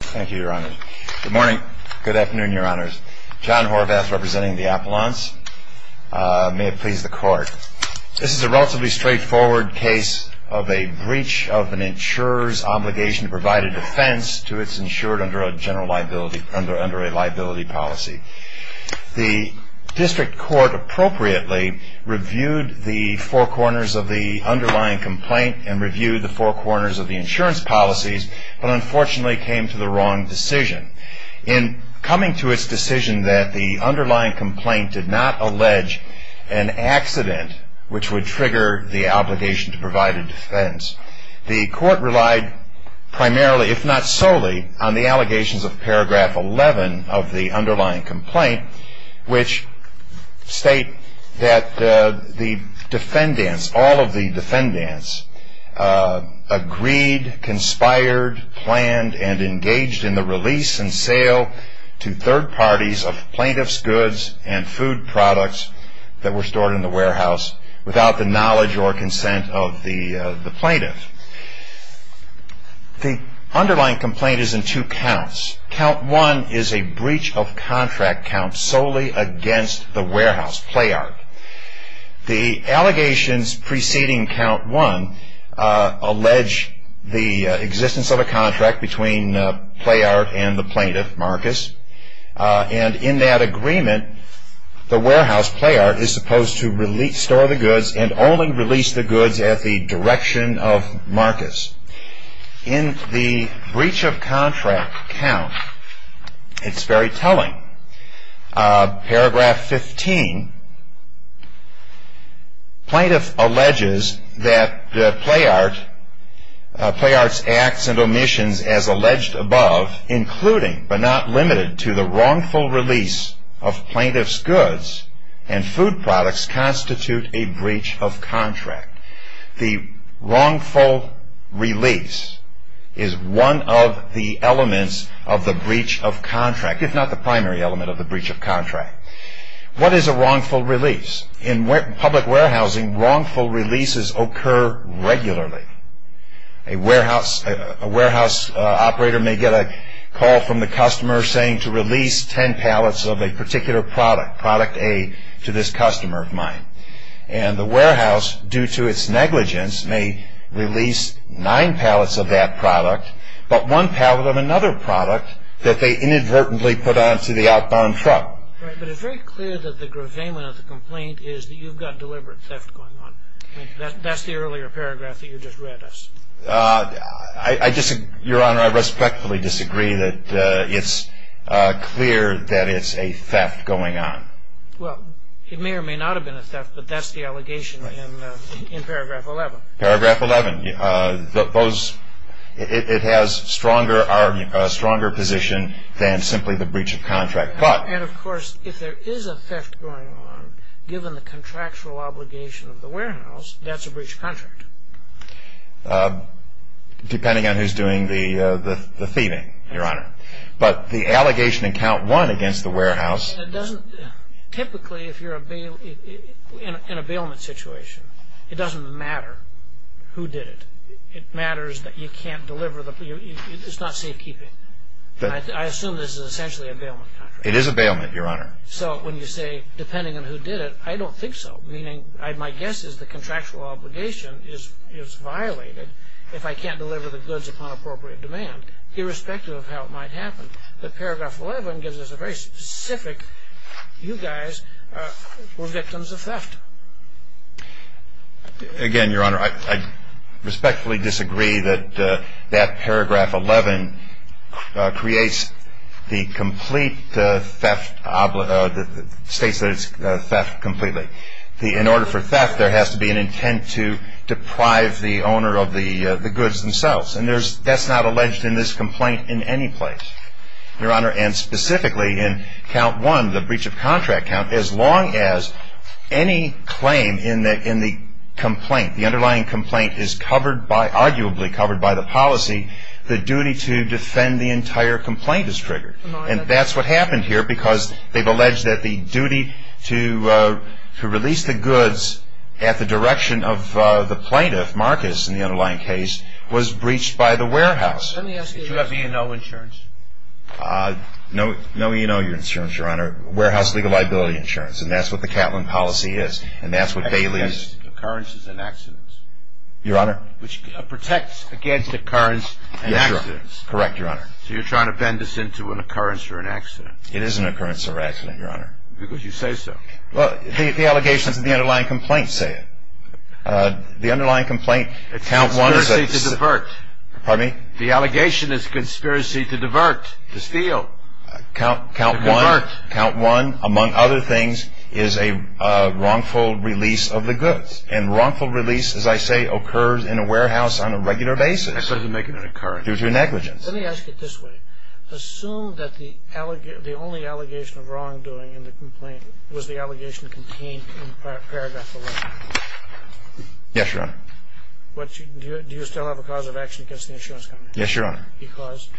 Thank you, Your Honors. Good morning. Good afternoon, Your Honors. John Horvath, representing the Appellants. May it please the Court. This is a relatively straightforward case of a breach of an insurer's obligation to provide a defense to its insured under a liability policy. The District Court appropriately reviewed the four corners of the underlying complaint and reviewed the four corners of the insurance policies, but unfortunately came to the wrong decision. In coming to its decision that the underlying complaint did not allege an accident which would trigger the obligation to provide a defense, the Court relied primarily, if not solely, on the allegations of paragraph 11 of the underlying complaint, which state that the defendants, all of the defendants, agreed, conspired, planned, and engaged in the release and sale to third parties of plaintiff's goods and food products that were stored in the warehouse without the knowledge or consent of the plaintiff. The underlying complaint is in two counts. Count 1 is a breach of contract count solely against the warehouse, PlayArt. The allegations preceding count 1 allege the existence of a contract between PlayArt and the plaintiff, Marcus, and in that agreement, the warehouse, PlayArt, is supposed to store the goods and only release the goods at the direction of Marcus. In the breach of contract count, it's very telling. Paragraph 15, plaintiff alleges that PlayArt's acts and omissions as alleged above, including but not limited to the wrongful release of plaintiff's goods and food products, constitute a breach of contract. The wrongful release is one of the elements of the breach of contract, if not the primary element of the breach of contract. What is a wrongful release? In public warehousing, wrongful releases occur regularly. A warehouse operator may get a call from the customer saying to release 10 pallets of a particular product, product A, to this customer of mine. And the warehouse, due to its negligence, may release nine pallets of that product, but one pallet of another product that they inadvertently put onto the outbound truck. Right, but it's very clear that the gravamen of the complaint is that you've got deliberate theft going on. That's the earlier paragraph that you just read us. Your Honor, I respectfully disagree that it's clear that it's a theft going on. Well, it may or may not have been a theft, but that's the allegation in paragraph 11. Paragraph 11. It has a stronger position than simply the breach of contract. And, of course, if there is a theft going on, given the contractual obligation of the warehouse, that's a breach of contract. Depending on who's doing the thieving, Your Honor. But the allegation in count one against the warehouse. Typically, if you're in a bailment situation, it doesn't matter who did it. It matters that you can't deliver. It's not safekeeping. I assume this is essentially a bailment contract. It is a bailment, Your Honor. So when you say, depending on who did it, I don't think so. Meaning, my guess is the contractual obligation is violated if I can't deliver the goods upon appropriate demand, irrespective of how it might happen. But paragraph 11 gives us a very specific, you guys were victims of theft. Again, Your Honor, I respectfully disagree that that paragraph 11 creates the complete theft, states that it's theft completely. In order for theft, there has to be an intent to deprive the owner of the goods themselves. And that's not alleged in this complaint in any place, Your Honor. And specifically in count one, the breach of contract count, as long as any claim in the complaint, the underlying complaint is covered by, arguably covered by the policy, the duty to defend the entire complaint is triggered. And that's what happened here because they've alleged that the duty to release the goods at the direction of the plaintiff, Marcus, in the underlying case, was breached by the warehouse. Did you have E&O insurance? No, no E&O insurance, Your Honor. Warehouse legal liability insurance. And that's what the Catlin policy is. And that's what Bailey is. Occurrences and accidents. Your Honor. Which protects against occurrence and accidents. Correct, Your Honor. So you're trying to bend this into an occurrence or an accident. It is an occurrence or accident, Your Honor. Because you say so. Well, the allegations of the underlying complaint say it. The underlying complaint, count one is a... It's a conspiracy to divert. Pardon me? The allegation is a conspiracy to divert, to steal, to divert. Count one, count one, among other things, is a wrongful release of the goods. And wrongful release, as I say, occurs in a warehouse on a regular basis. That doesn't make it an occurrence. Due to negligence. Let me ask it this way. Assume that the only allegation of wrongdoing in the complaint was the allegation contained in paragraph 11. Yes, Your Honor. Do you still have a cause of action against the insurance company? Yes, Your Honor. Because?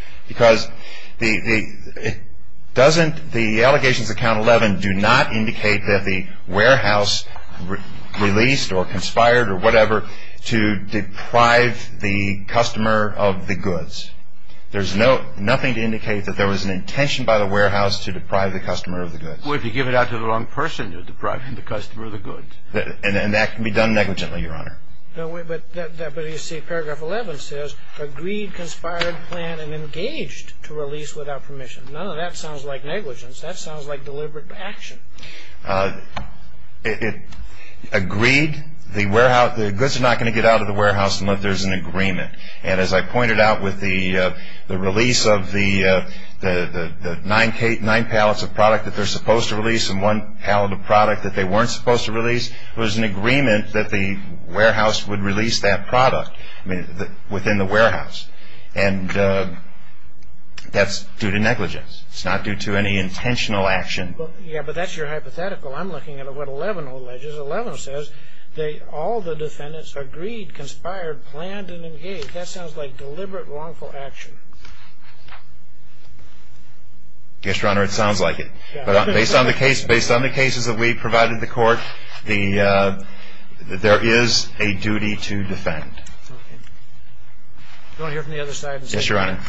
Doesn't the allegations of count 11 do not indicate that the warehouse released or conspired or whatever to deprive the customer of the goods? There's nothing to indicate that there was an intention by the warehouse to deprive the customer of the goods. Well, if you give it out to the wrong person, you're depriving the customer of the goods. And that can be done negligently, Your Honor. But, you see, paragraph 11 says, agreed, conspired, planned, and engaged to release without permission. None of that sounds like negligence. That sounds like deliberate action. It agreed the goods are not going to get out of the warehouse unless there's an agreement. And as I pointed out with the release of the nine pallets of product that they're supposed to release and one pallet of product that they weren't supposed to release, there was an agreement that the warehouse would release that product within the warehouse. And that's due to negligence. It's not due to any intentional action. Yeah, but that's your hypothetical. I'm looking at what 11 alleges. 11 says all the defendants agreed, conspired, planned, and engaged. That sounds like deliberate, wrongful action. Yes, Your Honor, it sounds like it. But based on the cases that we've provided the court, there is a duty to defend. Do you want to hear from the other side? Yes, Your Honor.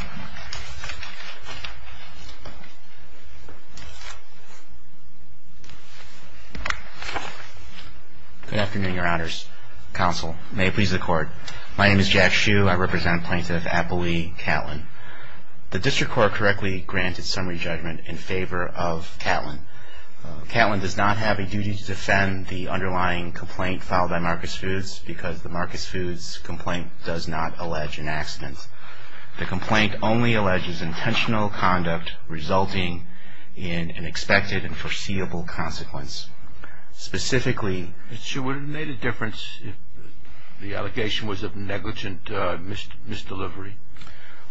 Good afternoon, Your Honors. Counsel, may it please the Court. My name is Jack Hsu. I represent Plaintiff Appley Catlin. The district court correctly granted summary judgment in favor of Catlin. Catlin does not have a duty to defend the underlying complaint filed by Marcus Foods because the Marcus Foods complaint does not allege an accident. The complaint only alleges intentional conduct resulting in an expected and foreseeable consequence. Specifically... Mr. Hsu, would it have made a difference if the allegation was of negligent misdelivery?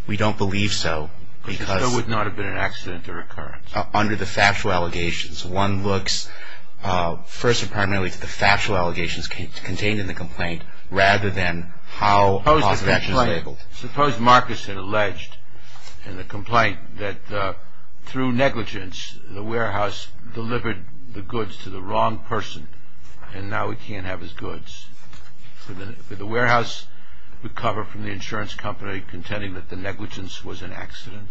We don't believe so because... There would not have been an accident or occurrence. Under the factual allegations, one looks first and primarily to the factual allegations contained in the complaint rather than how... Suppose Marcus had alleged in the complaint that through negligence the warehouse delivered the goods to the wrong person and now he can't have his goods. Would the warehouse recover from the insurance company contending that the negligence was an accident?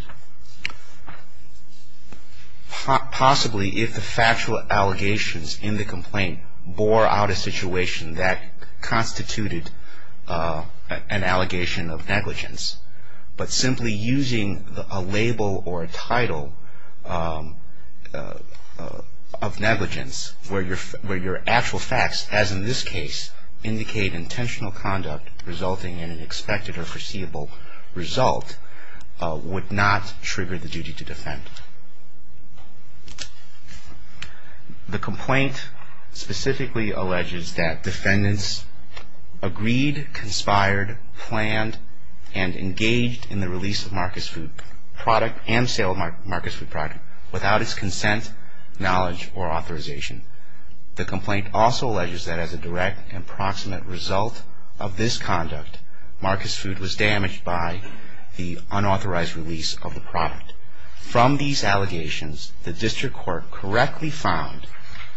Possibly if the factual allegations in the complaint bore out a situation that constituted an allegation of negligence. But simply using a label or a title of negligence where your actual facts, as in this case, indicate intentional conduct resulting in an expected or foreseeable result would not trigger the duty to defend. The complaint specifically alleges that defendants agreed, conspired, planned, and engaged in the release of Marcus Foods product and sale of Marcus Foods product without its consent, knowledge, or authorization. The complaint also alleges that as a direct and proximate result of this conduct, Marcus Foods was damaged by the unauthorized release of the product. From these allegations, the district court correctly found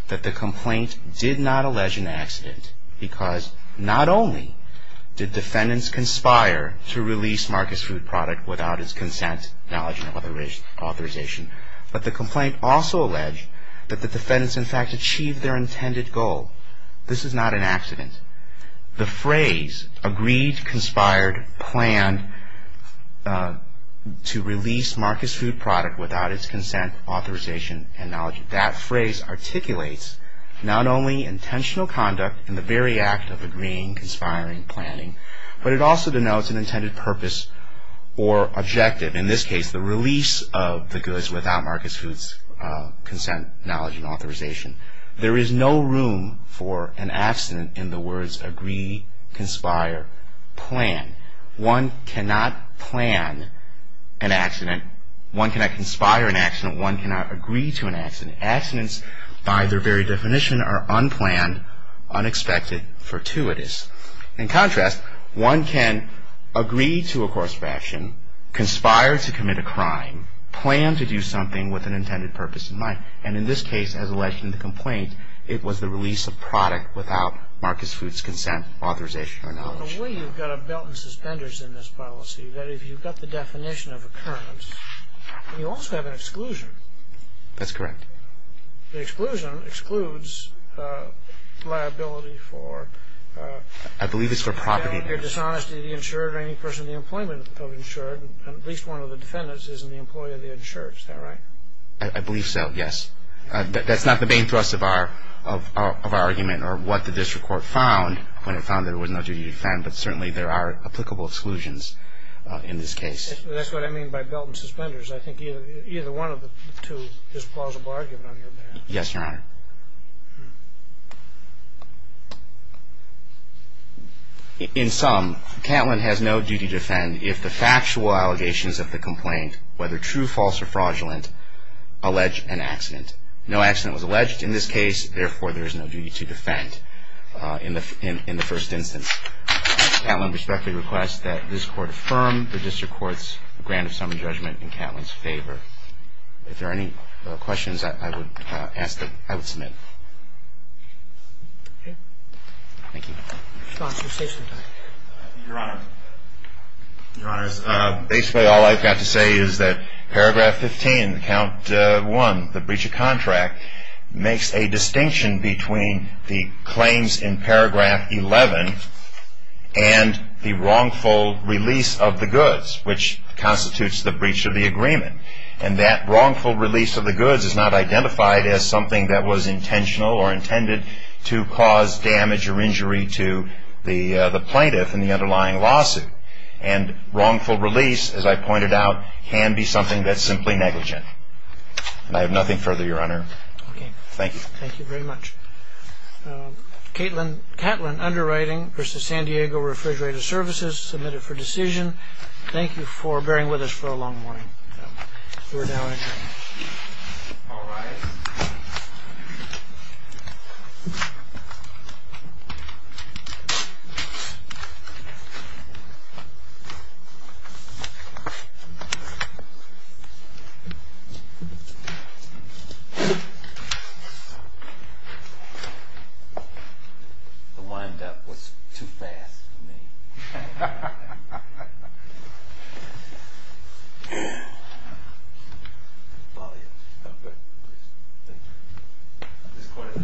that the complaint did not allege an accident because not only did defendants conspire to release Marcus Foods product without its consent, knowledge, or authorization, but the complaint also alleged that the defendants in fact achieved their intended goal. This is not an accident. The phrase agreed, conspired, planned to release Marcus Foods product without its consent, authorization, and knowledge, that phrase articulates not only intentional conduct in the very act of agreeing, conspiring, planning, but it also denotes an intended purpose or objective. In this case, the release of the goods without Marcus Foods consent, knowledge, and authorization. There is no room for an accident in the words agree, conspire, plan. One cannot plan an accident. One cannot conspire an accident. One cannot agree to an accident. Accidents, by their very definition, are unplanned, unexpected, fortuitous. In contrast, one can agree to a course of action, conspire to commit a crime, plan to do something with an intended purpose in mind, and in this case, as alleged in the complaint, it was the release of product without Marcus Foods consent, authorization, or knowledge. The way you've got a belt and suspenders in this policy, that if you've got the definition of occurrence, you also have an exclusion. That's correct. The exclusion excludes liability for- I believe it's for property- Your dishonesty to the insured or any person in the employment of the insured, and at least one of the defendants isn't the employee of the insured. Is that right? I believe so, yes. That's not the main thrust of our argument or what the district court found when it found there was no duty to defend, but certainly there are applicable exclusions in this case. That's what I mean by belt and suspenders. I think either one of the two is plausible argument on your behalf. Yes, Your Honor. In sum, Catlin has no duty to defend if the factual allegations of the complaint, whether true, false, or fraudulent, allege an accident. No accident was alleged in this case, therefore there is no duty to defend in the first instance. Catlin respectfully requests that this court affirm the district court's grant of summary judgment in Catlin's favor. If there are any questions I would ask that I would submit. Thank you. Your Honor, your Honor, basically all I've got to say is that Paragraph 15, Count 1, the breach of contract, makes a distinction between the claims in Paragraph 11 and the wrongful release of the goods, which constitutes the breach of the agreement. And that wrongful release of the goods is not identified as something that was intentional or intended to cause damage or injury to the plaintiff in the underlying lawsuit. And wrongful release, as I pointed out, can be something that's simply negligent. And I have nothing further, Your Honor. Okay. Thank you. Thank you very much. Catlin, underwriting versus San Diego Refrigerator Services, submitted for decision. Thank you for bearing with us for a long morning. We're now adjourned. All rise. The wind-up was too fast for me. Thank you. This court is adjourned.